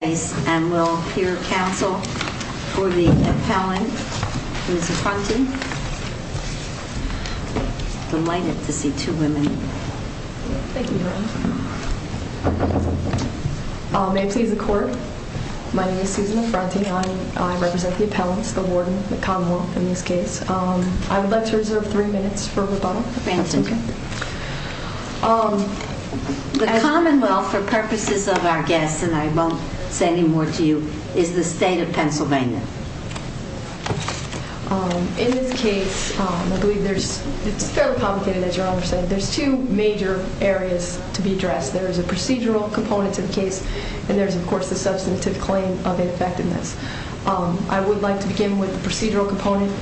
And we'll hear counsel for the appellant, Ms. Affronti. Delighted to see two women. Thank you, Your Honor. May it please the court, my name is Susan Affronti. I represent the appellants, the warden, the commonwealth in this case. I would like to reserve three minutes for rebuttal. Fantastic. The commonwealth, for purposes of our guests, and I won't say any more to you, is the state of Pennsylvania. In this case, I believe there's, it's fairly complicated, as Your Honor said. There's two major areas to be addressed. There is a procedural component to the case, and there's, of course, the substantive claim of ineffectiveness. I would like to begin with the procedural component.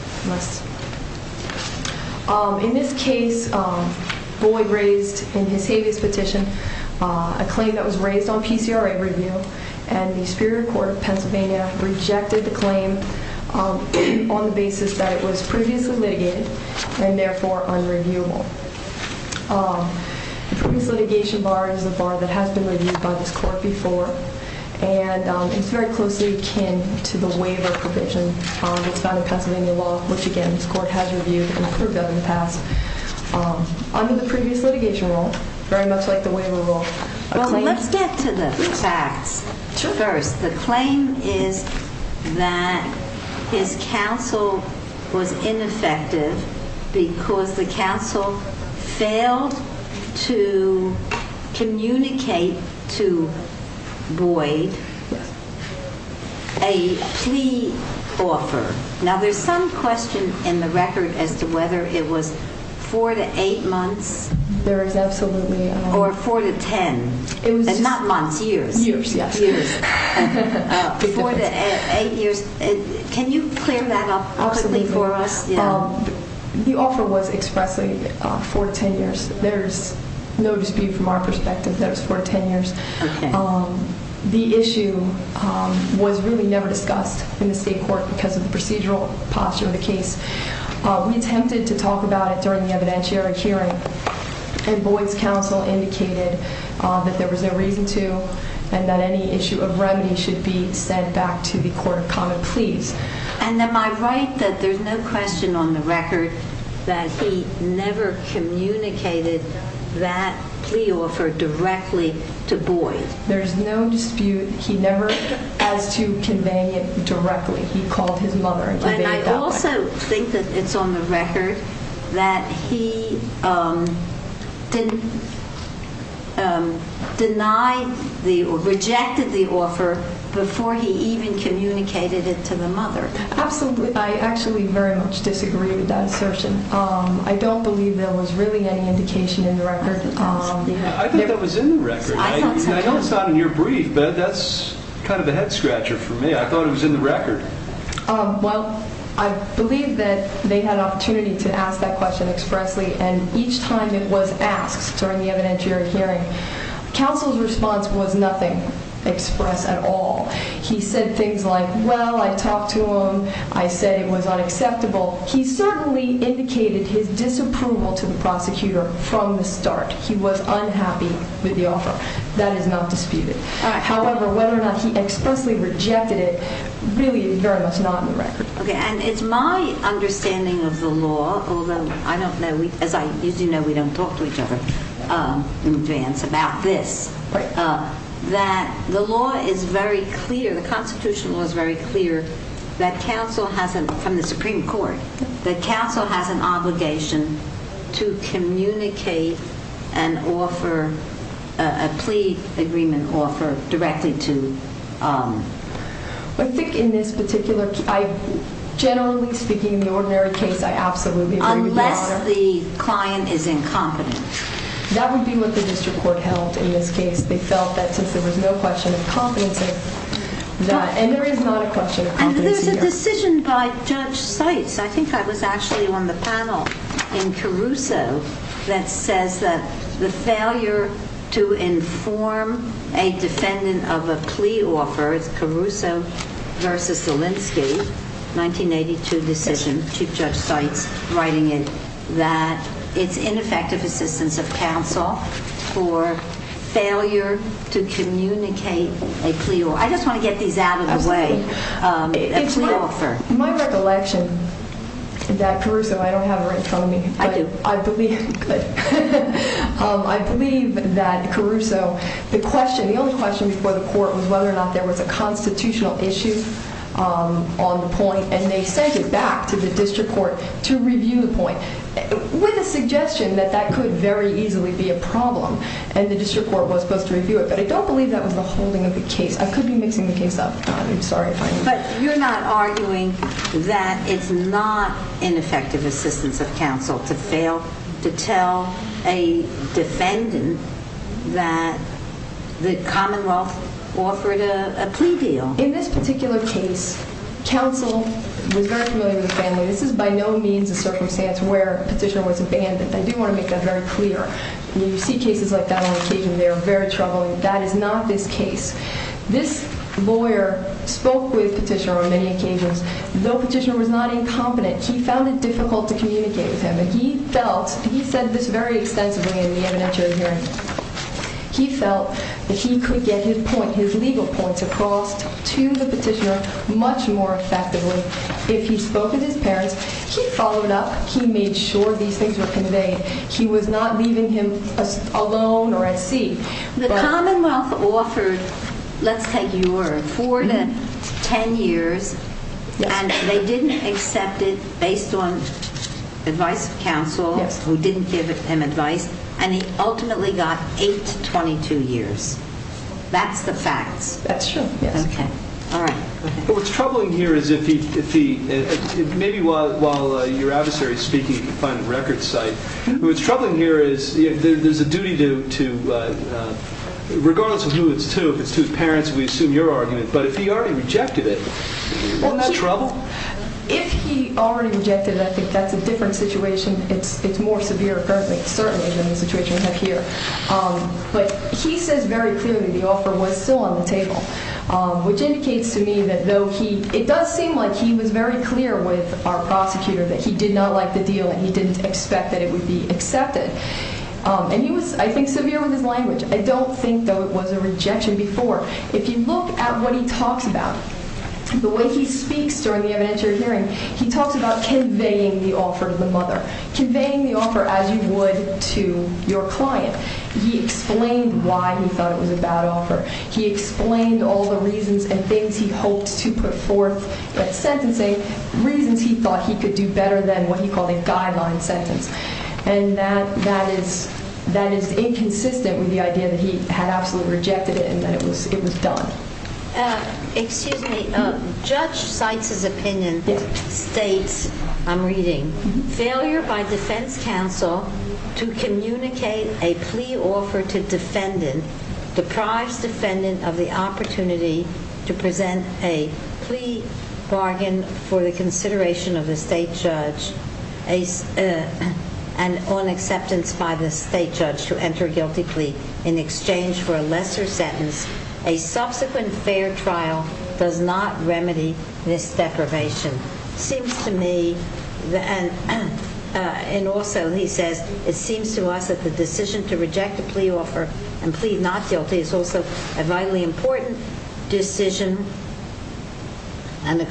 In this case, Boyd raised in his habeas petition a claim that was raised on PCRA review. And the Superior Court of Pennsylvania rejected the claim on the basis that it was previously litigated, and therefore unreviewable. The previous litigation bar is a bar that has been reviewed by this court before. And it's very closely akin to the waiver provision that's found in Pennsylvania law, which, again, this court has reviewed and approved of in the past. Under the previous litigation rule, very much like the waiver rule, a claim. Well, let's get to the facts first. The claim is that his counsel was ineffective because the counsel failed to communicate to Boyd a plea offer. Now, there's some question in the record as to whether it was four to eight months. There is absolutely. Or four to 10, and not months, years. Years, yes. Four to eight years. Can you clear that up quickly for us? The offer was expressly four to 10 years. There's no dispute from our perspective that it was four to 10 years. The issue was really never discussed in the state court because of the procedural posture of the case. We attempted to talk about it during the evidentiary hearing, and Boyd's counsel indicated that there was no reason to, and that any issue of remedy should be sent back to the court of common pleas. And am I right that there's no question on the record that he never communicated that plea offer directly to Boyd? There is no dispute. He called his mother and conveyed it that way. And I also think that it's on the record that he rejected the offer before he even communicated it to the mother. Absolutely. I actually very much disagree with that assertion. I don't believe there was really any indication in the record. I think that was in the record. I know it's not in your brief, but that's kind of a head scratcher for me. I thought it was in the record. Well, I believe that they had an opportunity to ask that question expressly. And each time it was asked during the evidentiary hearing, counsel's response was nothing expressed at all. He said things like, well, I talked to him. I said it was unacceptable. He certainly indicated his disapproval to the prosecutor from the start. He was unhappy with the offer. That is not disputed. However, whether or not he expressly rejected it really is very much not in the record. OK, and it's my understanding of the law, although I don't know. As I usually know, we don't talk to each other in advance about this, that the law is very clear, the constitutional law is very clear that counsel hasn't, from the Supreme Court, that counsel has an obligation to communicate and offer a plea agreement or for directly to. I think in this particular, generally speaking, the ordinary case, I absolutely agree with you on that. Unless the client is incompetent. That would be what the district court held in this case. They felt that since there was no question of competency, and there is not a question of competency here. And there's a decision by Judge Seitz. I think I was actually on the panel in Caruso that says that the failure to inform a defendant of a plea offer, it's Caruso versus Zelinsky, 1982 decision, Chief Judge Seitz writing it, that it's ineffective assistance of counsel for failure to communicate a plea. I just want to get these out of the way, a plea offer. My recollection that Caruso, I don't have her in front of me. I do. But I believe that Caruso, the only question before the court was whether or not there was a constitutional issue on the point. And they sent it back to the district court to review the point, with a suggestion that that could very easily be a problem. And the district court was supposed to review it. But I don't believe that was the holding of the case. I could be mixing the case up. I'm sorry if I am. But you're not arguing that it's not ineffective assistance of counsel to fail to tell a defendant that the Commonwealth offered a plea deal. In this particular case, counsel was very familiar with the family. This is by no means a circumstance where petitioner was abandoned. I do want to make that very clear. You see cases like that on occasion. They are very troubling. That is not this case. This lawyer spoke with petitioner on many occasions. Though petitioner was not incompetent, he found it difficult to communicate with him. He felt, he said this very extensively in the evidentiary hearing. He felt that he could get his legal points across to the petitioner much more effectively if he spoke with his parents. He followed up. He made sure these things were conveyed. He was not leaving him alone or at sea. The Commonwealth offered, let's take your word, 10 years, and they didn't accept it based on advice of counsel, who didn't give him advice. And he ultimately got 8 to 22 years. That's the facts. That's true, yes. What's troubling here is if he, maybe while your adversary is speaking, you can find a record site. What's troubling here is there's a duty to, regardless of who it's to, if it's to his parents, we assume your argument. But if he already rejected it, isn't that trouble? If he already rejected it, I think that's a different situation. It's more severe currently, certainly, than the situation we have here. But he says very clearly the offer was still on the table, which indicates to me that though he, it does seem like he was very clear with our prosecutor that he did not like the deal and he didn't expect that it would be accepted. And he was, I think, severe with his language. I don't think, though, it was a rejection before. If you look at what he talks about, the way he speaks during the evidentiary hearing, he talks about conveying the offer to the mother, conveying the offer as you would to your client. He explained why he thought it was a bad offer. He explained all the reasons and things he hoped to put forth at sentencing, reasons he thought he could do better than what he called a guideline sentence. And that is inconsistent with the idea that he had absolutely rejected it and that it was done. Excuse me. Judge Seitz's opinion states, I'm reading, failure by defense counsel to communicate a plea offer to defendant, the prize defendant of the opportunity to present a plea bargain for the consideration of the state judge and on acceptance by the state judge to enter a guilty plea in exchange for a lesser sentence. A subsequent fair trial does not remedy this deprivation. Seems to me, and also he says, it seems to us that the decision to reject a plea offer and plead not guilty is also a vitally important decision and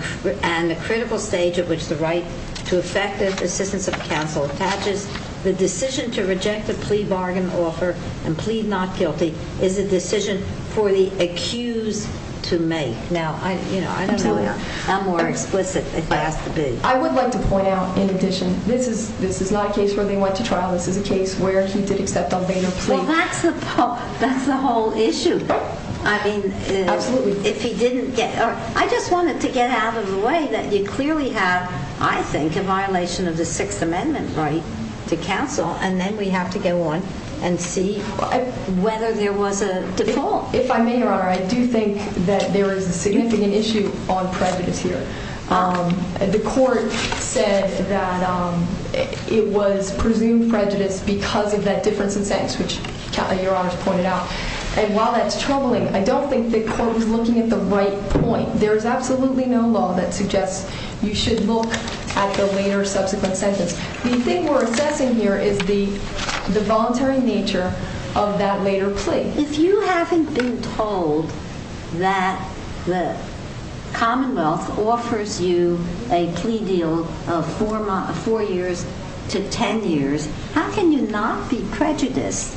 a critical stage at which the right to effective assistance of counsel attaches. The decision to reject a plea bargain offer and plead not guilty is a decision for the accused to make. Now, I don't know how more explicit it has to be. I would like to point out, in addition, this is not a case where they went to trial. This is a case where he did accept a later plea. Well, that's the whole issue. I mean, if he didn't get out. I just wanted to get out of the way that you clearly have, I think, a violation of the Sixth to counsel. And then we have to go on and see whether there was a default. If I may, Your Honor, I do think that there is a significant issue on prejudice here. The court said that it was presumed prejudice because of that difference in sentence, which Your Honor's pointed out. And while that's troubling, I don't think the court was looking at the right point. There is absolutely no law that suggests you should look at the later subsequent sentence. The thing we're assessing here is the voluntary nature of that later plea. If you haven't been told that the Commonwealth offers you a plea deal of four years to 10 years, how can you not be prejudiced?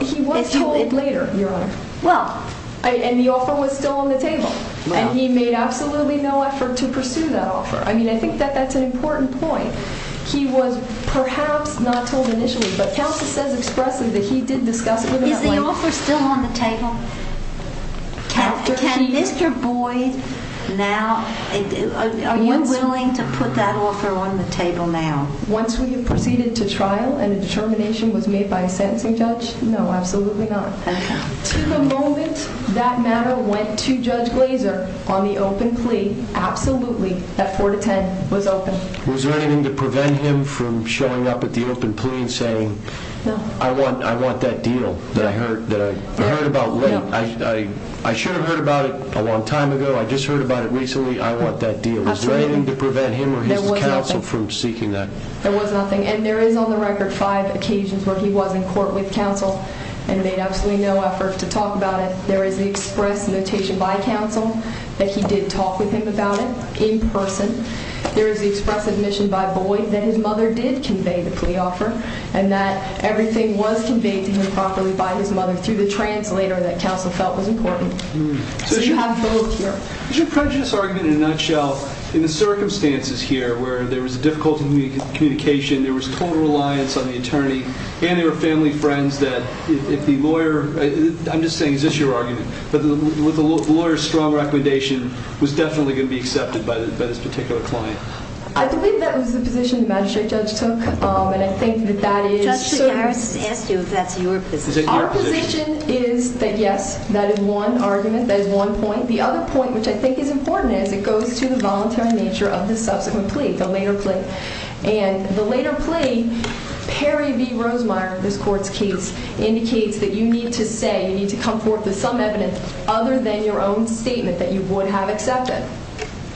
He was told later, Your Honor. And the offer was still on the table. And he made absolutely no effort to pursue that offer. I think that that's an important point. He was perhaps not told initially. But counsel says expressly that he did discuss it. Is the offer still on the table? Can Mr. Boyd now, are you willing to put that offer on the table now? Once we have proceeded to trial and a determination was made by a sentencing judge, no, absolutely not. To the moment that matter went to Judge Glazer on the open plea, absolutely that four to 10 was open. Was there anything to prevent him from showing up at the open plea and saying, I want that deal that I heard about late? I should have heard about it a long time ago. I just heard about it recently. I want that deal. Was there anything to prevent him or his counsel from seeking that? There was nothing. And there is on the record five occasions where he was in court with counsel and made absolutely no effort to talk about it. There is the express notation by counsel that he did talk with him about it in person. There is the express admission by Boyd that his mother did convey the plea offer and that everything was conveyed to him properly by his mother through the translator that counsel felt was important. So you have both here. Is your prejudice argument, in a nutshell, in the circumstances here where there was difficulty in communication, there was total reliance on the attorney, and there were family friends that if the lawyer, I'm just saying, is this your argument, that with a lawyer's strong recommendation was definitely going to be accepted by this particular client? I believe that was the position the magistrate judge took. And I think that that is certain. Justice Harris has asked you if that's your position. Our position is that, yes, that is one argument. That is one point. The other point, which I think is important, is it goes to the voluntary nature of the subsequent plea, the later plea. And the later plea, Perry v. Rosemeyer, this court's case, indicates that you need to say, you need to come forth with some evidence other than your own statement that you would have accepted.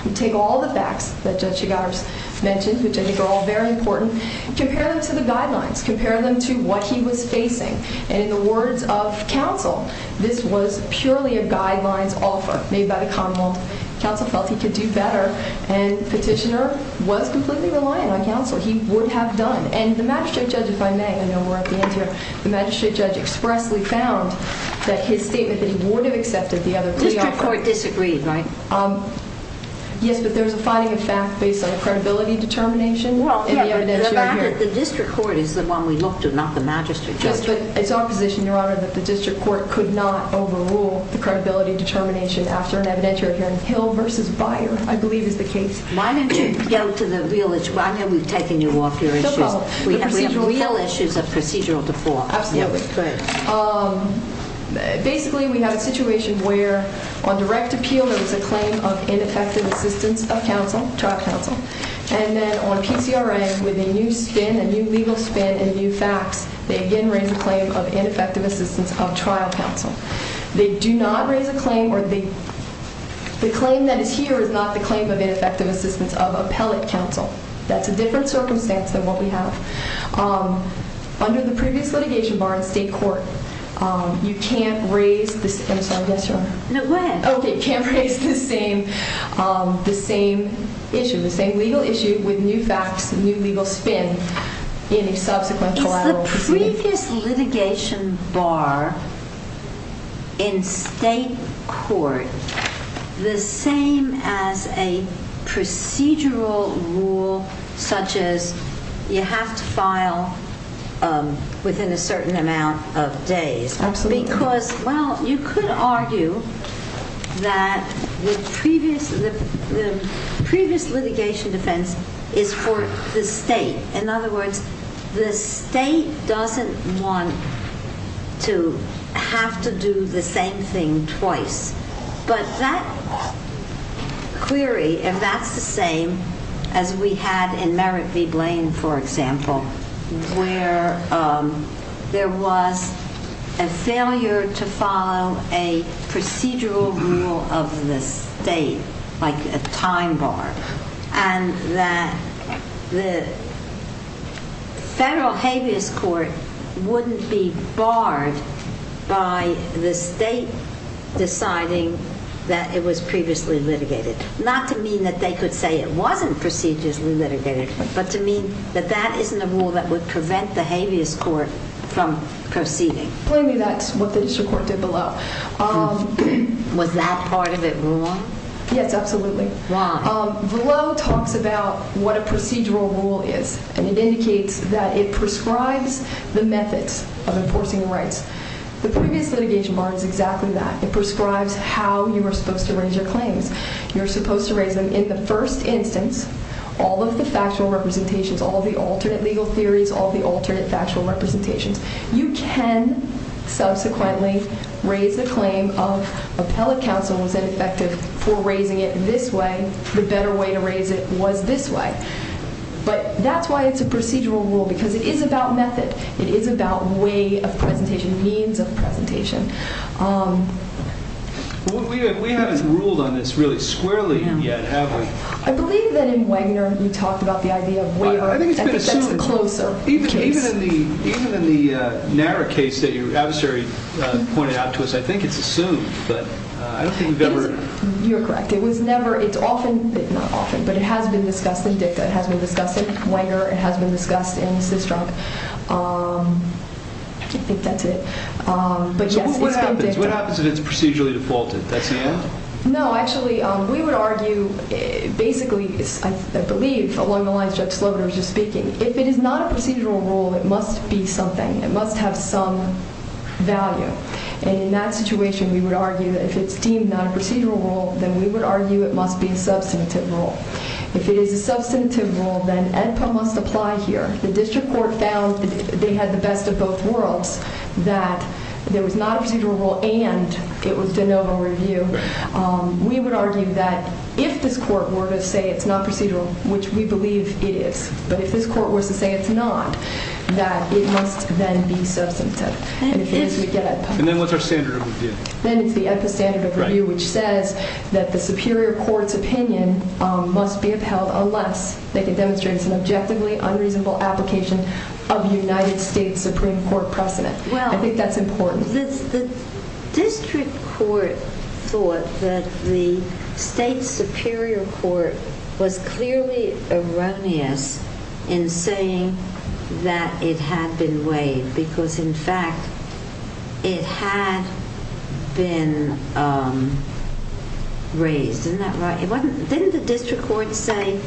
You take all the facts that Judge Chigars mentioned, which I think are all very important, compare them to the guidelines. Compare them to what he was facing. And in the words of counsel, this was purely a guidelines offer made by the Commonwealth. Counsel felt he could do better, and the petitioner was completely reliant on counsel. He would have done. And the magistrate judge, if I may, I know we're at the end here, the magistrate judge expressly found that his statement that he would have accepted the other plea offer. The district court disagreed, right? Yes, but there was a fighting of fact based on credibility determination in the evidentiary hearing. The fact that the district court is the one we looked to, not the magistrate judge. Yes, but it's our position, Your Honor, that the district court could not overrule the credibility determination after an evidentiary hearing. Hill v. Byer, I believe, is the case. Why don't you go to the real issue? I know we've taken you off your issues. We have real issues of procedural default. Absolutely. Basically, we have a situation where on direct appeal, there was a claim of ineffective assistance of trial counsel. And then on PCRM, with a new spin, a new legal spin, and new facts, they again raise a claim of ineffective assistance of trial counsel. They do not raise a claim, or the claim that is here is not the claim of ineffective assistance of appellate counsel. That's a different circumstance than what we have. Under the previous litigation bar in state court, you can't raise the same legal issue with new facts and new legal spin in a subsequent collateral proceeding. Is the previous litigation bar in state court the same as a procedural rule, such as you have to file within a certain amount of days? Absolutely. Because, well, you could argue that the previous litigation defense is for the state. In other words, the state doesn't want to have to do the same thing twice. But that query, if that's the same as we had in Merritt v. Blaine, for example, where there was a failure to follow a procedural rule of the state, like a time bar, and that the federal habeas court wouldn't be barred by the state deciding that it was previously litigated. Not to mean that they could say it wasn't procedurally litigated, but to mean that that isn't a rule that would prevent the habeas court from proceeding. Blame me, that's what the district court did below. Was that part of it wrong? Yes, absolutely. Why? Below talks about what a procedural rule is. And it indicates that it prescribes the methods of enforcing rights. The previous litigation bar is exactly that. It prescribes how you are supposed to raise your claims. You're supposed to raise them in the first instance. All of the factual representations, all the alternate legal theories, all the alternate factual representations. You can subsequently raise a claim of appellate counsel was ineffective for raising it this way. The better way to raise it was this way. But that's why it's a procedural rule, because it is about method. It is about way of presentation, means of presentation. We haven't ruled on this really squarely yet, have we? I believe that in Wagner, you talked about the idea of waiver. I think it's been assumed. I think that's a closer case. Even in the narrow case that your adversary pointed out to us, I think it's assumed. But I don't think we've ever. You're correct. It's often, not often, but it has been discussed in dicta. It has been discussed in Wagner. It has been discussed in CIS drug. I think that's it. But yes, it's been dicta. What happens if it's procedurally defaulted? That's the end? No, actually, we would argue basically, I believe, along the lines Judge Sloan was just speaking, if it is not a procedural rule, it must be something. It must have some value. And in that situation, we would argue that if it's deemed not a procedural rule, then we would argue it must be a substantive rule. If it is a substantive rule, then AEDPA must apply here. The district court found that they had the best of both worlds, that there was not a procedural rule, and it was de novo review. We would argue that if this court were to say it's not procedural, which we believe it is, but if this court were to say it's not, that it must then be substantive. And if it is, we get AEDPA. Then it's the AEDPA standard of review, which says that the superior court's opinion must be upheld unless they can demonstrate it's an objectively unreasonable application of United States Supreme Court precedent. I think that's important. The district court thought that the state superior court was clearly erroneous in saying that it had been waived, because, in fact, it had been raised. Isn't that right? Didn't the district court say,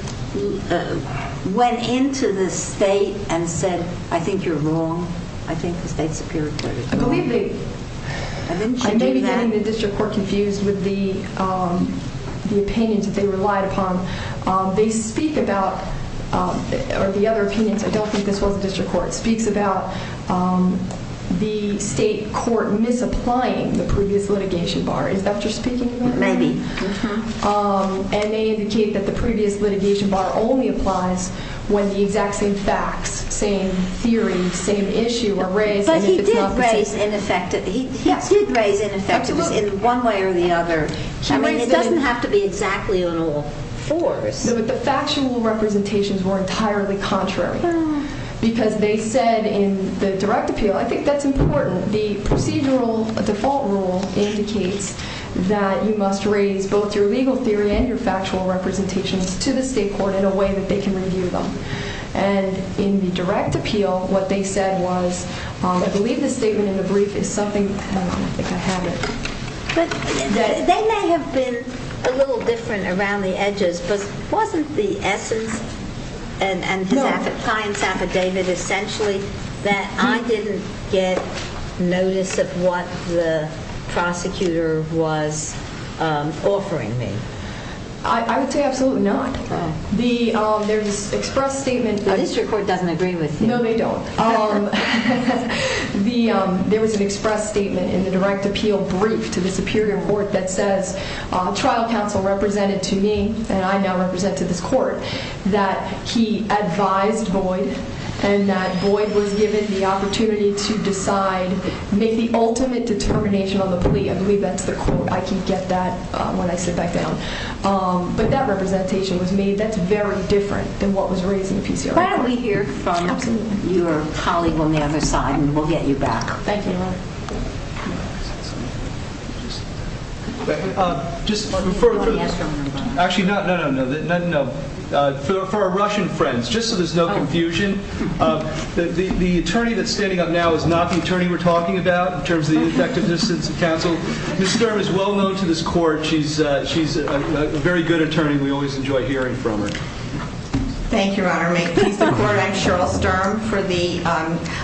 went into the state and said, I think you're wrong? I think the state superior court is wrong. I believe they did that. I may be getting the district court confused with the opinions that they relied upon. They speak about, or the other opinions, I don't think this was the district court, speaks about the state court misapplying the previous litigation bar. Is that what you're speaking about? Maybe. And they indicate that the previous litigation bar only applies when the exact same facts, same theory, same issue are raised. But he did raise ineffectiveness in one way or the other. It doesn't have to be exactly on all fours. The factual representations were entirely contrary, because they said in the direct appeal, I think that's important. The procedural default rule indicates that you must raise both your legal theory and your factual representations to the state court in a way that they can review them. And in the direct appeal, what they said was, I believe the statement in the brief is something that they could have it. They may have been a little different around the edges, but wasn't the essence and his client's affidavit essentially that I didn't get notice of what the prosecutor was offering me? I would say absolutely not. There's an express statement. The district court doesn't agree with you. No, they don't. There was an express statement in the direct appeal brief to the Superior Court that says, trial counsel represented to me, and I now represent to this court, that he advised Boyd, and that Boyd was given the opportunity to decide, make the ultimate determination on the plea. I believe that's the quote. I can get that when I sit back down. But that representation was made that's very different than what was raised in the PCOA court. Why don't we hear from your colleague on the other side, and we'll get you back. Thank you, Your Honor. Thank you. Just for further, actually, no, no, no, no, no, no. For our Russian friends, just so there's no confusion, the attorney that's standing up now is not the attorney we're talking about, in terms of the effectiveness of counsel. Ms. Sturm is well known to this court. She's a very good attorney. We always enjoy hearing from her. Thank you, Your Honor. May it please the court, I'm Cheryl Sturm for the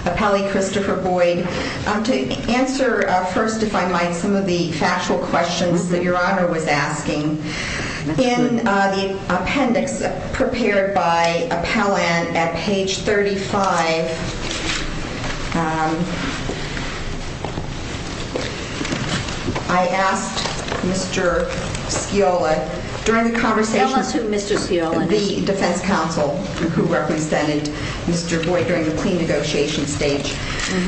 appellee, Christopher Boyd. To answer first, if I might, some of the factual questions that Your Honor was asking. In the appendix prepared by appellant at page 35, I asked Mr. Sciola, during the conversation, the defense counsel who represented Mr. Boyd during the plea negotiation stage.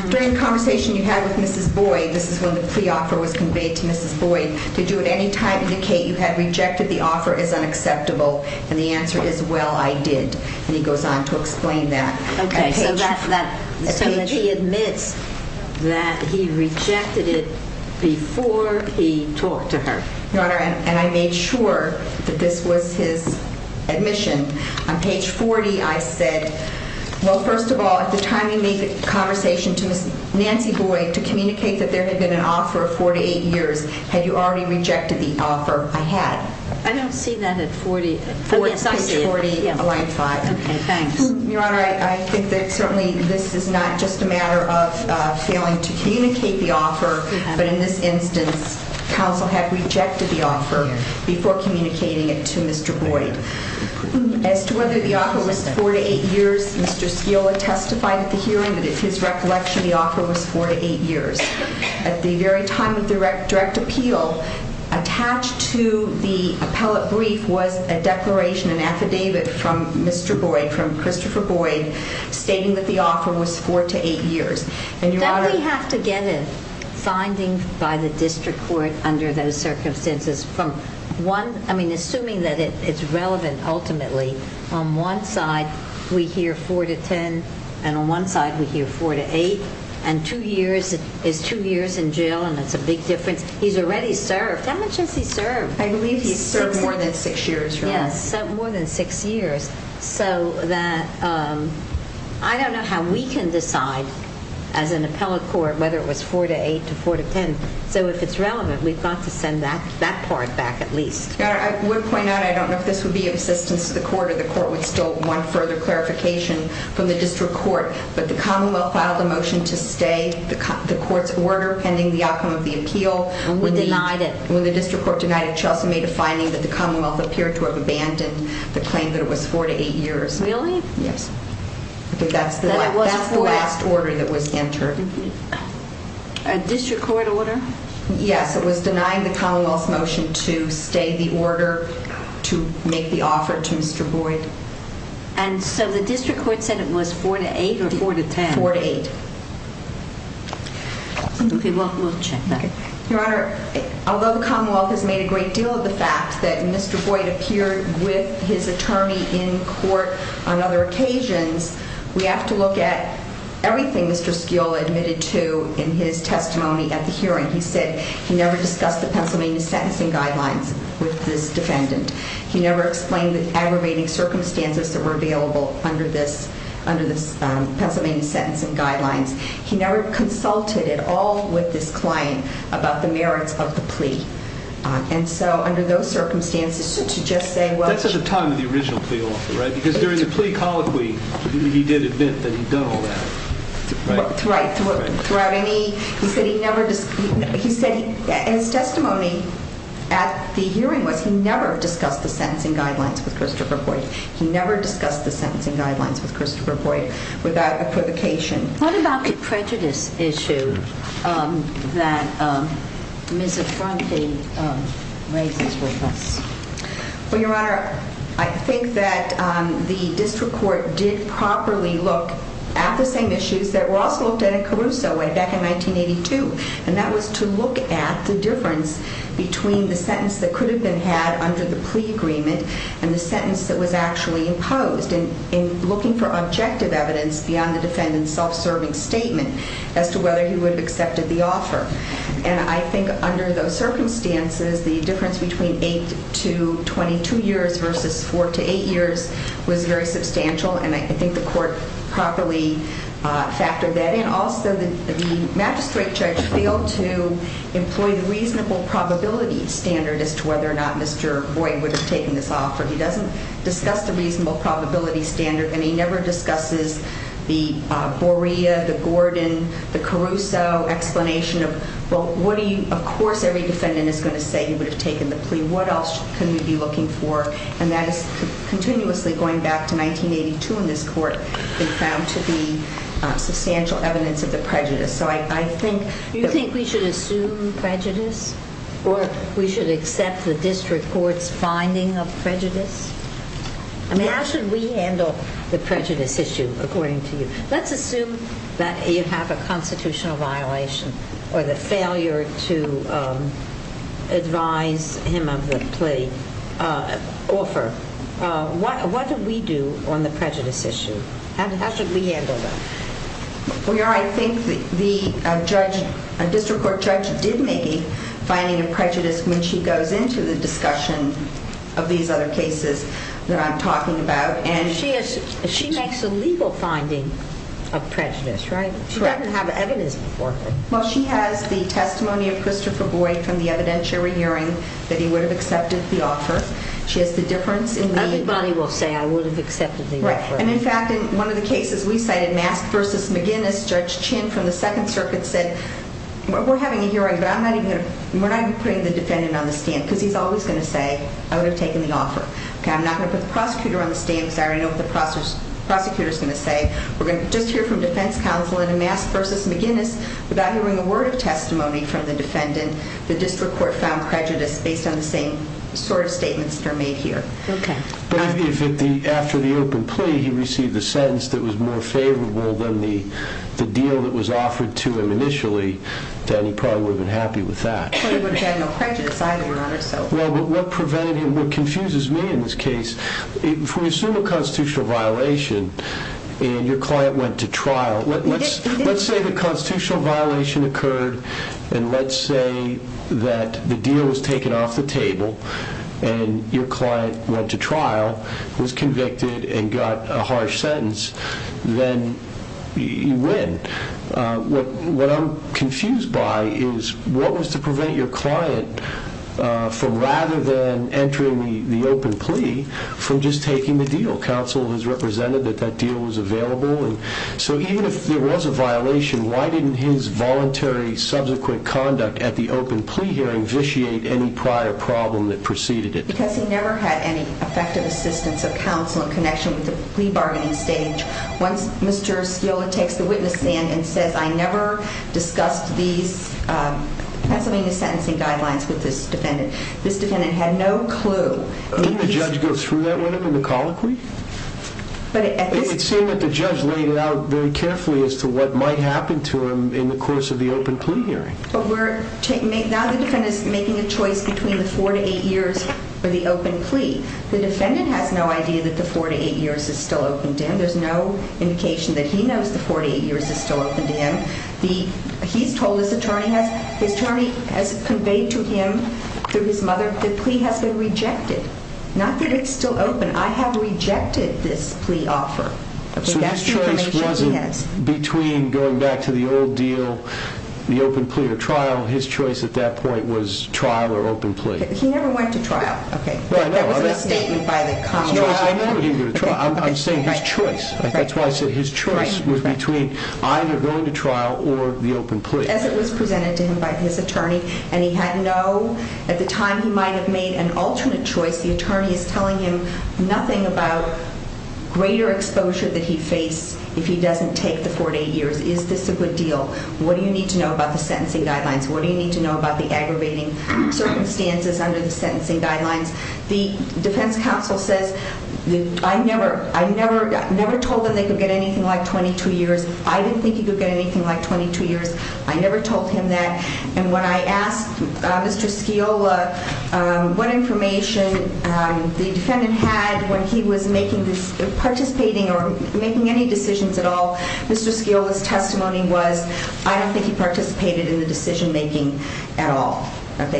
During the conversation you had with Mrs. Boyd, this is when the plea offer was conveyed to Mrs. Boyd, did you at any time indicate you had rejected the offer as unacceptable? And the answer is, well, I did. And he goes on to explain that. OK. So that's when he admits that he rejected it before he talked to her. Your Honor, and I made sure that this was his admission. On page 40, I said, well, first of all, at the time you made the conversation to Nancy Boyd to communicate that there had been an offer of four to eight years, had you already rejected the offer? I had. I don't see that at 40. I see it. Page 40, line 5. OK, thanks. Your Honor, I think that certainly this is not just a matter of failing to communicate the offer. But in this instance, counsel had rejected the offer before communicating it to Mr. Boyd. As to whether the offer was four to eight years, Mr. Skeel had testified at the hearing that in his recollection, the offer was four to eight years. At the very time of direct appeal, attached to the appellate brief was a declaration, an affidavit from Mr. Boyd, from Christopher Boyd, stating that the offer was four to eight years. And Your Honor. Don't we have to get a finding by the district court under those circumstances? I mean, assuming that it's relevant, ultimately. On one side, we hear four to 10. And on one side, we hear four to eight. And two years is two years in jail. And that's a big difference. He's already served. How much has he served? I believe he's served more than six years, Your Honor. Yes, more than six years. So I don't know how we can decide, as an appellate court, whether it was four to eight to four to 10. So if it's relevant, we've got to send that part back, at least. Your Honor, I would point out, I don't know if this would be of assistance to the court, or the court would still want further clarification from the district court. But the Commonwealth filed a motion to stay the court's order, pending the outcome of the appeal. And we denied it. When the district court denied it, Chelsea made a finding that the Commonwealth appeared to have abandoned the claim that it was four to eight years. Really? Yes. That's the last order that was entered. District court order? Yes, it was denying the Commonwealth's motion to stay the order, to make the offer to Mr. Boyd. And so the district court said it was four to eight, or four to 10? Four to eight. OK, we'll check that. Your Honor, although the Commonwealth has made a great deal of the fact that Mr. Boyd appeared with his attorney in court on other occasions, we have to look at everything Mr. Skeel admitted to in his testimony at the hearing. He said he never discussed the Pennsylvania sentencing guidelines with this defendant. He never explained the aggravating circumstances that were available under this Pennsylvania sentencing guidelines. He never consulted at all with this client about the merits of the plea. And so under those circumstances, to just say, well, she's not going to do it. That's at the time of the original plea offer, right? Because during the plea colloquy, he did admit that he'd done all that, right? Right, throughout any, he said he never, he said his testimony at the hearing was he never discussed the sentencing guidelines with Christopher Boyd. He never discussed the sentencing guidelines with Christopher Boyd without equivocation. What about the prejudice issue that Ms. Affronti raises with us? Well, Your Honor, I think that the district court did properly look at the same issues that were also looked at in Caruso back in 1982. And that was to look at the difference between the sentence that could have been had under the plea agreement and the sentence that was actually imposed. And in looking for objective evidence beyond the defendant's self-serving statement as to whether he would have accepted the offer. And I think under those circumstances, the difference between eight to 22 years versus four to eight years was very substantial. And I think the court properly factored that in. Also, the magistrate judge failed to employ the reasonable probability standard as to whether or not Mr. Boyd would have taken this offer. He doesn't discuss the reasonable probability standard. And he never discusses the Borea, the Gordon, the Caruso explanation of, well, what do you, of course, every defendant is going to say he would have taken the plea. What else can we be looking for? And that is continuously going back to 1982 in this court. It found to be substantial evidence of the prejudice. So I think that we should assume prejudice, or we should accept the district court's finding of prejudice? I mean, how should we handle the prejudice issue, according to you? Let's assume that you have a constitutional violation or the failure to advise him of the plea offer. What do we do on the prejudice issue? How should we handle that? Well, Your Honor, I think the district court judge did make a finding of prejudice when she goes into the discussion of these other cases that I'm talking about. She makes a legal finding of prejudice, right? She doesn't have evidence before her. Well, she has the testimony of Christopher Boyd from the evidentiary hearing that he would have accepted the offer. She has the difference in the other cases. Everybody will say, I would have accepted the offer. And in fact, in one of the cases we cited, Masked versus McGinnis, Judge Chin from the Second Circuit said, we're having a hearing, but we're not even putting the defendant on the stand, because he's always going to say, I would have taken the offer. I'm not going to put the prosecutor on the stand, because I already know what the prosecutor is going to say. We're going to just hear from defense counsel. And in Masked versus McGinnis, without hearing a word of testimony from the defendant, the district court found prejudice based on the same sort of statements that are made here. But if after the open plea, he received a sentence that was more favorable than the deal that was offered to him initially, then he probably would have been happy with that. Well, he wouldn't have had no prejudice either, Your Honor. Well, what prevented him, what confuses me in this case, if we assume a constitutional violation, and your client went to trial, let's say the constitutional violation occurred, and let's say that the deal was taken off the table, and your client went to trial, was convicted, and got a harsh sentence, then you win. What I'm confused by is, what was to prevent your client, from rather than entering the open plea, from just taking the deal? Counsel has represented that that deal was available. So even if there was a violation, why didn't his voluntary subsequent conduct at the open plea hearing vitiate any prior problem that preceded it? Because he never had any effective assistance of counsel in connection with the plea bargaining stage. Once Mr. Sciola takes the witness stand and says, I never discussed these Pennsylvania sentencing guidelines with this defendant, this defendant had no clue. Didn't the judge go through that with him in the colloquy? But at this point. It seemed that the judge laid it out very carefully as to what might happen to him in the course of the open plea hearing. But now the defendant is making a choice between the four to eight years for the open plea. The defendant has no idea that the four to eight years is still open to him. There's no indication that he knows the four to eight years is still open to him. He's told, his attorney has conveyed to him through his mother, the plea has been rejected. Not that it's still open. I have rejected this plea offer. So his choice wasn't between going back to the old deal, the open plea or trial. His choice at that point was trial or open plea. He never went to trial. OK. That was a statement by the common law. No, I never gave him the choice. I'm saying his choice. That's why I said his choice was between either going to trial or the open plea. As it was presented to him by his attorney. And he had no, at the time he might have made an alternate choice, the attorney is telling him nothing about greater exposure that he'd face if he doesn't take the four to eight years. Is this a good deal? What do you need to know about the sentencing guidelines? What do you need to know about the aggravating circumstances under the sentencing guidelines? The defense counsel says, I never told him they could get anything like 22 years. I didn't think he could get anything like 22 years. I never told him that. And when I asked Mr. Sciola what information the defendant had when he was participating or making any decisions at all, Mr. Sciola's testimony was, I don't think he participated in the decision making at all. I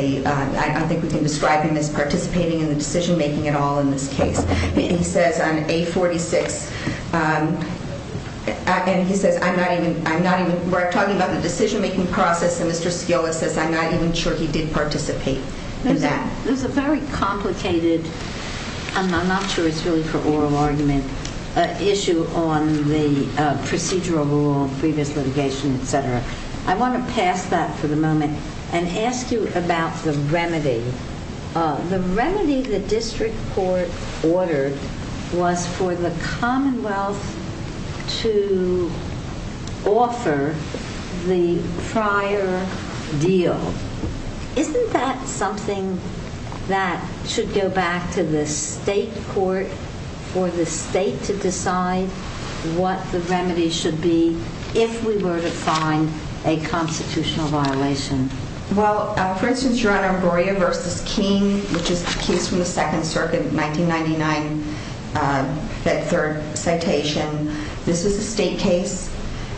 don't think we can describe him as participating in the decision making at all in this case. He says on 846, and he says, I'm not even, we're talking about the decision making process and Mr. Sciola says, I'm not even sure he did participate in that. There's a very complicated, I'm not sure it's really for oral argument, issue on the procedural rule, previous litigation, et cetera. I want to pass that for the moment and ask you about the remedy. The remedy the district court ordered was for the Commonwealth to offer the prior deal. Isn't that something that should go back to the state court for the state to decide what the remedy should be if we were to find a constitutional violation? Well, for instance, your Honor, Goria versus King, which is the case from the Second Circuit, 1999, that third citation, this is a state case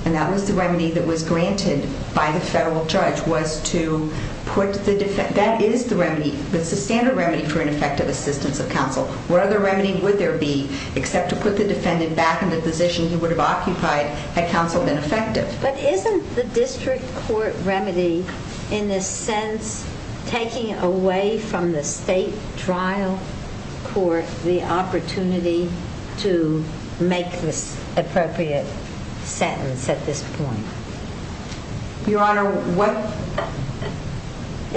and that was the remedy that was granted by the federal judge was to put the defendant, that is the remedy, that's the standard remedy for ineffective assistance of counsel. What other remedy would there be except to put the defendant back in the position he would have occupied had counsel been effective? But isn't the district court remedy, in a sense, taking away from the state trial court the opportunity to make this appropriate sentence at this point? Your Honor, what?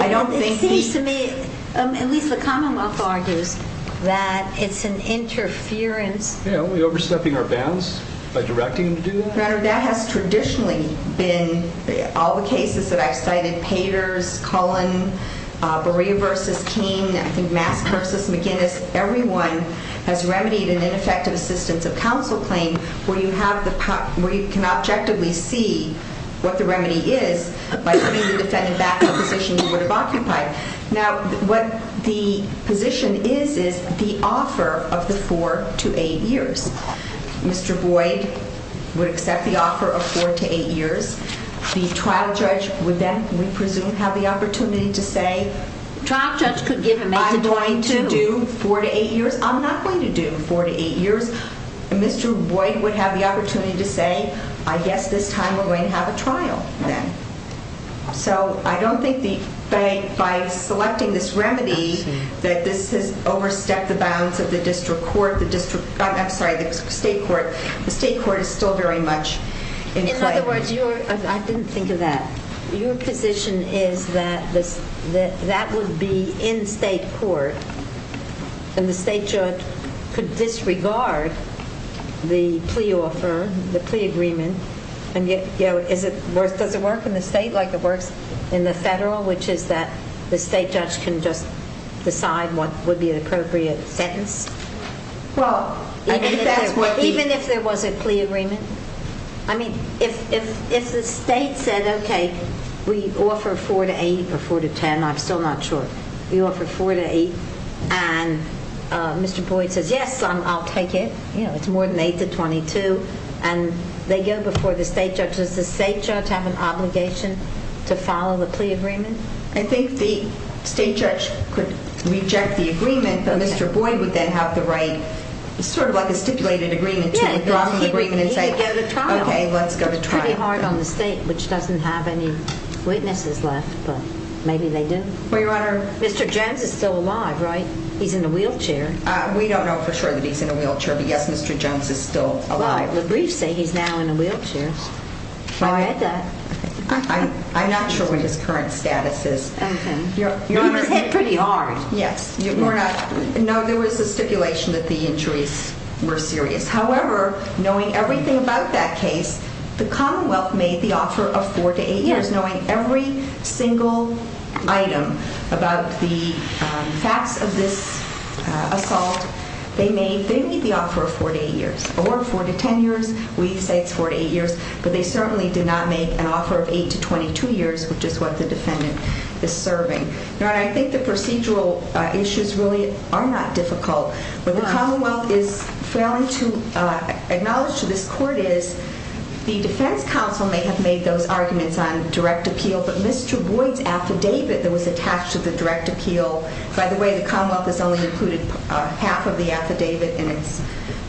I don't think these. It seems to me, at least the Commonwealth argues, that it's an interference. Yeah, are we overstepping our bounds by directing them to do that? Your Honor, that has traditionally been all the cases that I've cited. Paters, Cullen, Beria versus King, I think Mask versus McGinnis. Everyone has remedied an ineffective assistance of counsel claim where you can objectively see what the remedy is by putting the defendant back in the position he would have occupied. Now, what the position is is the offer of the four to eight years. Mr. Boyd would accept the offer of four to eight years. The trial judge would then, we presume, have the opportunity to say, I'm going to do four to eight years. I'm not going to do four to eight years. Mr. Boyd would have the opportunity to say, I guess this time we're going to have a trial then. So I don't think by selecting this remedy, that this has overstepped the bounds of the district court, the district, I'm sorry, the state court. The state court is still very much in play. In other words, I didn't think of that. Your position is that that would be in state court, and the state judge could disregard the plea offer, the plea agreement. And does it work in the state like it works in the federal, which is that the state judge can just decide what would be an appropriate sentence? Well, even if there was a plea agreement, I mean, if the state said, OK, we offer four to eight or four to 10, I'm still not sure. We offer four to eight, and Mr. Boyd says, yes, I'll take it. It's more than eight to 22. And they go before the state judge. Does the state judge have an obligation to follow the plea agreement? I think the state judge could reject the agreement, but Mr. Boyd would then have the right, sort of like a stipulated agreement, to withdraw the agreement and say, OK, let's go to trial. It's pretty hard on the state, which doesn't have any witnesses left, but maybe they do. Mr. Jones is still alive, right? He's in a wheelchair. We don't know for sure that he's in a wheelchair, but yes, Mr. Jones is still alive. Well, the briefs say he's now in a wheelchair. I've read that. I'm not sure what his current status is. He was hit pretty hard. Yes. No, there was a stipulation that the injuries were serious. However, knowing everything about that case, the Commonwealth made the offer of four to eight years. Knowing every single item about the facts of this assault, they made the offer of four to eight years, or four to 10 years. We say it's four to eight years, but they certainly did not make an offer of eight to 22 years, which is what the defendant is serving. Your Honor, I think the procedural issues really are not difficult. What the Commonwealth is failing to acknowledge to this court is the defense counsel may have made those arguments on direct appeal, but Mr. Boyd's affidavit that was attached to the direct appeal, by the way, the Commonwealth has only included half of the affidavit in its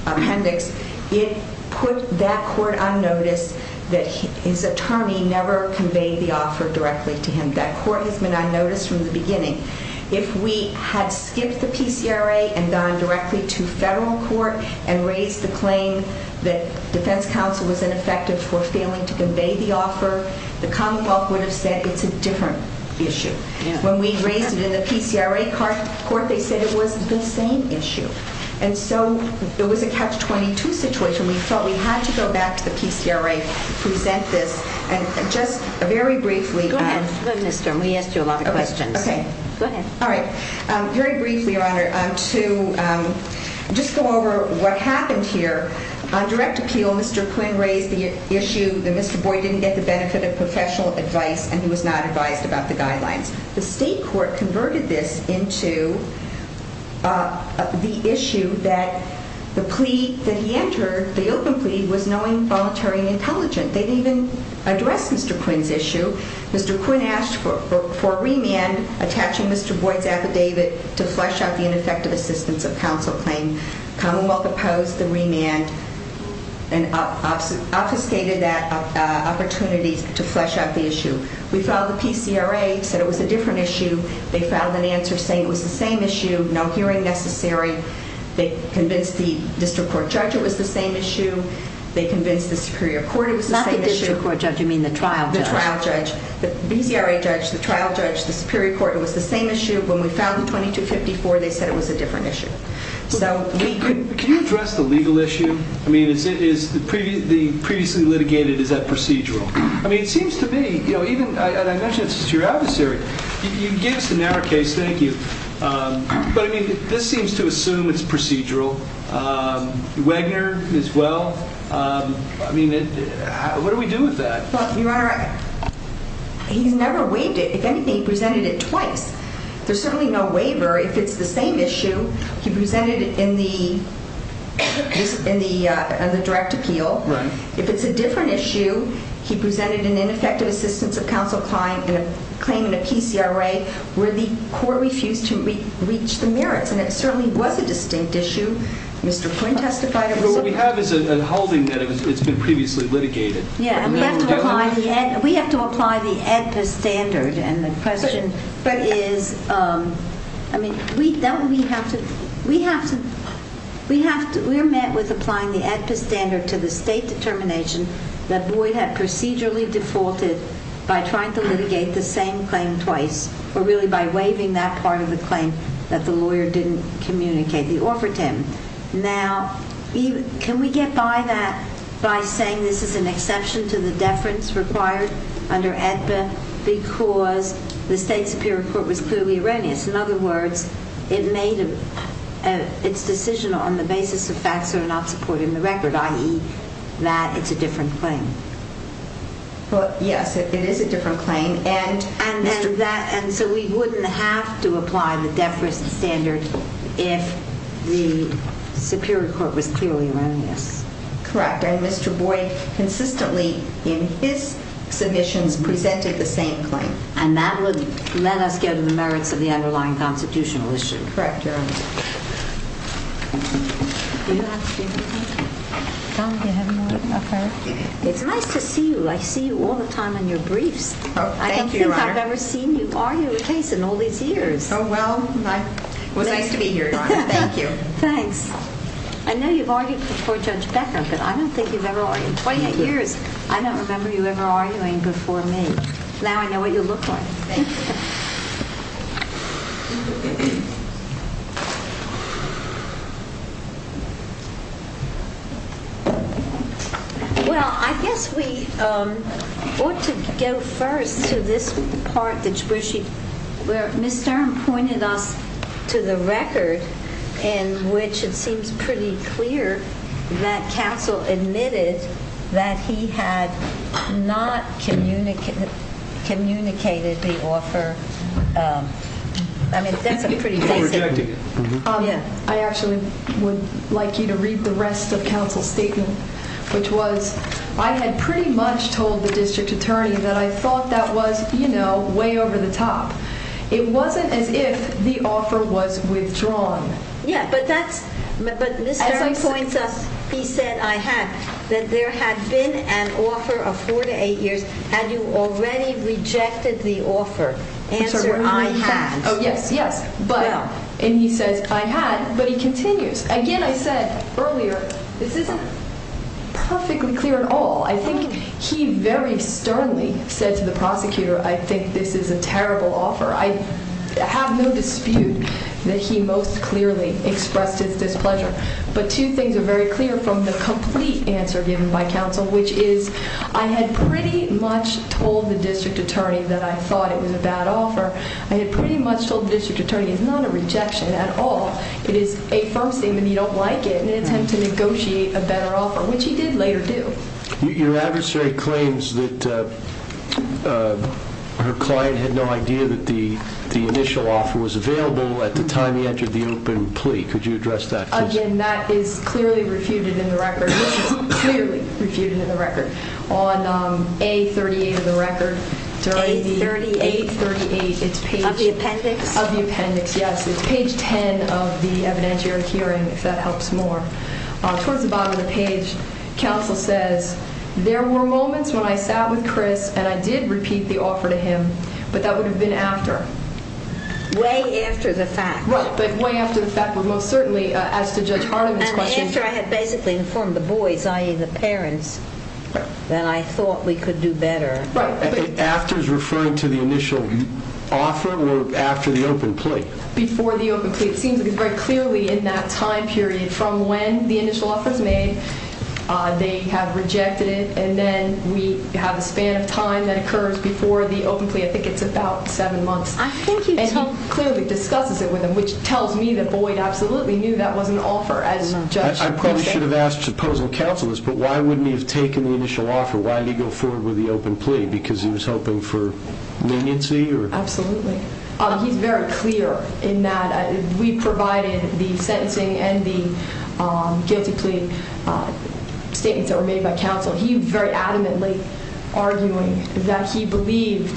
appendix. It put that court on notice that his attorney never conveyed the offer directly to him. That court has been on notice from the beginning. If we had skipped the PCRA and gone directly to federal court and raised the claim that defense counsel was ineffective for failing to convey the offer, the Commonwealth would have said it's a different issue. When we raised it in the PCRA court, they said it was the same issue. And so there was a catch-22 situation. We felt we had to go back to the PCRA, present this, and just very briefly. Go ahead. Go ahead, Mr. We asked you a lot of questions. OK. Go ahead. All right. Very briefly, Your Honor, to just go over what happened here, on direct appeal, Mr. Quinn raised the issue that Mr. Boyd didn't get the benefit of professional advice, and he was not advised about the guidelines. The state court converted this into the issue that the plea that he entered, the open plea, was knowing, voluntary, and intelligent. They didn't even address Mr. Quinn's issue. Mr. Quinn asked for a remand attaching Mr. Boyd's affidavit to flesh out the ineffective assistance of counsel claim. Commonwealth opposed the remand and obfuscated that opportunity to flesh out the issue. We filed the PCRA, said it was a different issue. They filed an answer saying it was the same issue, no hearing necessary. They convinced the district court judge it was the same issue. They convinced the Superior Court it was the same issue. Not the district court judge, you mean the trial judge. The trial judge. The PCRA judge, the trial judge, the Superior Court, it was the same issue. When we filed the 2254, they said it was a different issue. Can you address the legal issue? I mean, is the previously litigated, is that procedural? I mean, it seems to me, you know, even, and I mentioned this to your adversary, you can give us the narrow case, thank you. But I mean, this seems to assume it's procedural. Wagner, as well. I mean, what do we do with that? But your honor, he's never waived it. If anything, he presented it twice. There's certainly no waiver if it's the same issue. He presented it in the direct appeal. If it's a different issue, he presented an ineffective assistance of counsel claim in a PCRA where the court refused to reach the merits. And it certainly was a distinct issue. Mr. Quinn testified over the summer. But what we have is a holding that it's been previously litigated. Yeah, we have to apply the ADPA standard. And the question is, I mean, we're met with applying the ADPA standard to the state determination that Boyd had procedurally defaulted by trying to litigate the same claim twice, or really by waiving that part of the claim that the lawyer didn't communicate the offer to him. Now, can we get by that by saying this is an exception to the deference required under ADPA because the state superior court was clearly erroneous? In other words, it made its decision on the basis of facts that are not supported in the record, i.e. that it's a different claim. Well, yes, it is a different claim. And so we wouldn't have to apply the deference standard if the superior court was clearly erroneous. Correct, and Mr. Boyd consistently in his submissions presented the same claim. And that would let us go to the merits of the underlying constitutional issue. Correct, Your Honor. Do you have a statement? Tom, do you have a note of clarification? It's nice to see you. I see you all the time on your briefs. Oh, thank you, Your Honor. I don't think I've ever seen you argue a case in all these years. Oh, well, it was nice to be here, Your Honor. Thank you. Thanks. I know you've argued before Judge Becker, but I don't think you've ever argued. In 28 years, I don't remember you ever arguing before me. Now I know what you look like. Thank you. Thank you. Well, I guess we ought to go first to this part that Ms. Stern pointed us to the record in which it seems pretty clear that counsel admitted that he had not communicated the offer I mean, that's a pretty basic. You're rejecting it. I actually would like you to read the rest of counsel's statement, which was, I had pretty much told the district attorney that I thought that was, you know, way over the top. It wasn't as if the offer was withdrawn. Yeah, but that's, but Ms. Stern points us, he said I had, that there had been an offer of four to eight years. Had you already rejected the offer? Answer, I had. Oh, yes, yes. But, and he says, I had, but he continues. Again, I said earlier, this isn't perfectly clear at all. I think he very sternly said to the prosecutor, I think this is a terrible offer. I have no dispute that he most clearly expressed his displeasure. But two things are very clear from the complete answer given by counsel, which is, I had pretty much told the district attorney that I thought it was a bad offer. I had pretty much told the district attorney, it's not a rejection at all. It is a firm statement that you don't like it in an attempt to negotiate a better offer, which he did later do. Your adversary claims that her client had no idea that the initial offer was available at the time he entered the open plea. Could you address that, please? Again, that is clearly refuted in the record. This is clearly refuted in the record. On A38 of the record, during the- A38? A38, it's page- Of the appendix? Of the appendix, yes. It's page 10 of the evidentiary hearing, if that helps more. Towards the bottom of the page, counsel says, there were moments when I sat with Chris and I did repeat the offer to him, but that would have been after. Way after the fact. Right, but way after the fact, but most certainly, as to Judge Hardiman's question- And after I had basically informed the boys, i.e. the parents, that I thought we could do better. Right, I think after is referring to the initial offer or after the open plea? Before the open plea. It seems to be very clearly in that time period, from when the initial offer is made, they have rejected it, and then we have a span of time that occurs before the open plea. I think it's about seven months. I think he told- And he clearly discusses it with them, which tells me that Boyd absolutely knew that was an offer, as Judge- I probably should have asked supposing counsel is, but why wouldn't he have taken the initial offer? Why did he go forward with the open plea? Because he was hoping for leniency or- Absolutely. He's very clear in that we provided the sentencing and the guilty plea statements that were made by counsel. He very adamantly arguing that he believed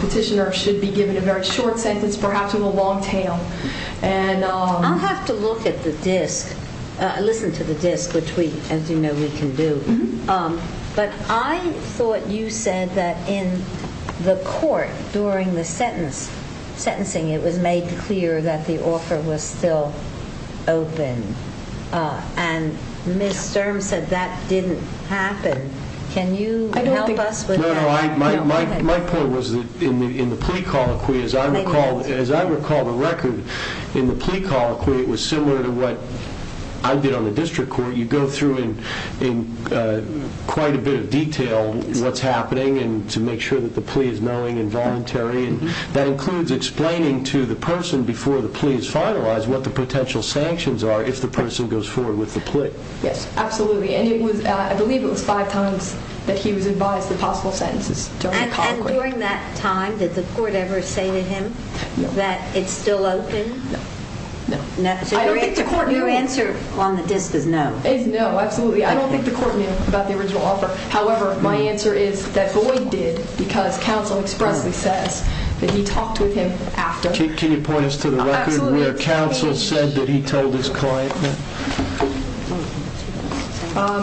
petitioner should be given a very short sentence, perhaps in the long tail, and- I'll have to look at the disk. Listen to the disk, which we, as you know, we can do. But I thought you said that in the court, during the sentencing, it was made clear that the offer was still open. And Ms. Sturm said that didn't happen. Can you help us with that? No, no, my point was that in the plea colloquy, as I recall the record, in the plea colloquy, it was similar to what I did on the district court. You go through in quite a bit of detail what's happening and to make sure that the plea is knowing and voluntary. That includes explaining to the person before the plea is finalized, what the potential sanctions are if the person goes forward with the plea. Yes, absolutely. And it was, I believe it was five times that he was advised the possible sentences during the colloquy. And during that time, did the court ever say to him that it's still open? No, no. Your answer on the disk is no. Is no, absolutely. I don't think the court knew about the original offer. However, my answer is that Boyd did because counsel expressly says that he talked with him after. Can you point us to the record where counsel said that he told his client?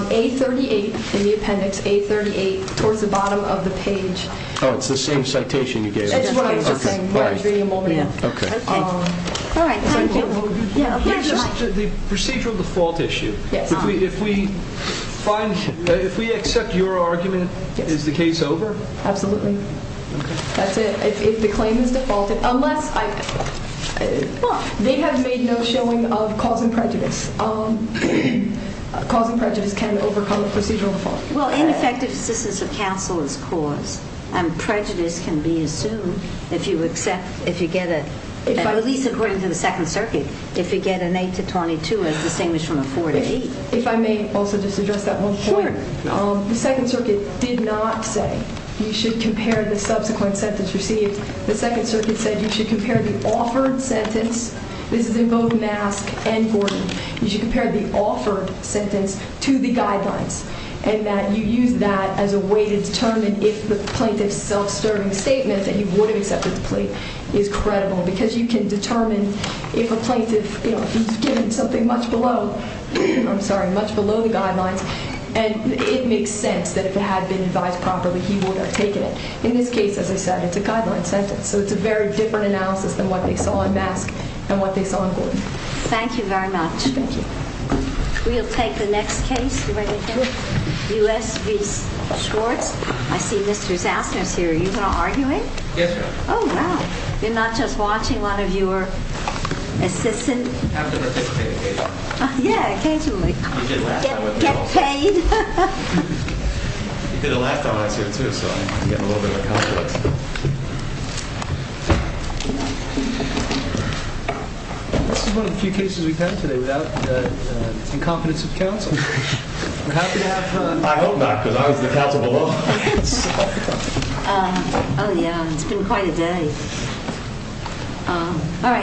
A38, in the appendix, A38, towards the bottom of the page. Oh, it's the same citation you gave us. That's right, it's the same one. Okay, all right. Yeah. Okay. All right, thank you. Yeah, of course, you're welcome. The procedural default issue. Yes. If we find, if we accept your argument, is the case over? Absolutely. That's it, if the claim is defaulted, unless, they have made no showing of cause and prejudice. Cause and prejudice can overcome a procedural default. Well, ineffective assistance of counsel is cause, and prejudice can be assumed if you accept, if you get a, at least according to the Second Circuit, if you get an eight to 22, as distinguished from a four to eight. If I may also just address that one point. Sure. The Second Circuit did not say, you should compare the subsequent sentence received. The Second Circuit said, you should compare the offered sentence. This is in both Mask and Gordon. You should compare the offered sentence to the guidelines, and that you use that as a way to determine if the plaintiff's self-serving statement that he would have accepted the plate is credible, because you can determine if a plaintiff, you know, he's given something much below, I'm sorry, much below the guidelines, and it makes sense that if it had been advised properly, he would have taken it. In this case, as I said, it's a guideline sentence. So it's a very different analysis than what they saw in Mask and what they saw in Gordon. Thank you very much. Thank you. We'll take the next case. You ready to take it? U.S. v. Schwartz. I see Mr. Zassner's here. Are you going to argue it? Yes, ma'am. Oh, wow. You're not just watching one of your assistant? I have to participate occasionally. Yeah, occasionally. You did last time with me. Get paid. You did it last time I was here, too, so I'm getting a little bit of a complex. This is one of the few cases we've had today without the incompetence of counsel. We're happy to have him. I hope not, because I was the counsel below. Oh, yeah, it's been quite a day. All right.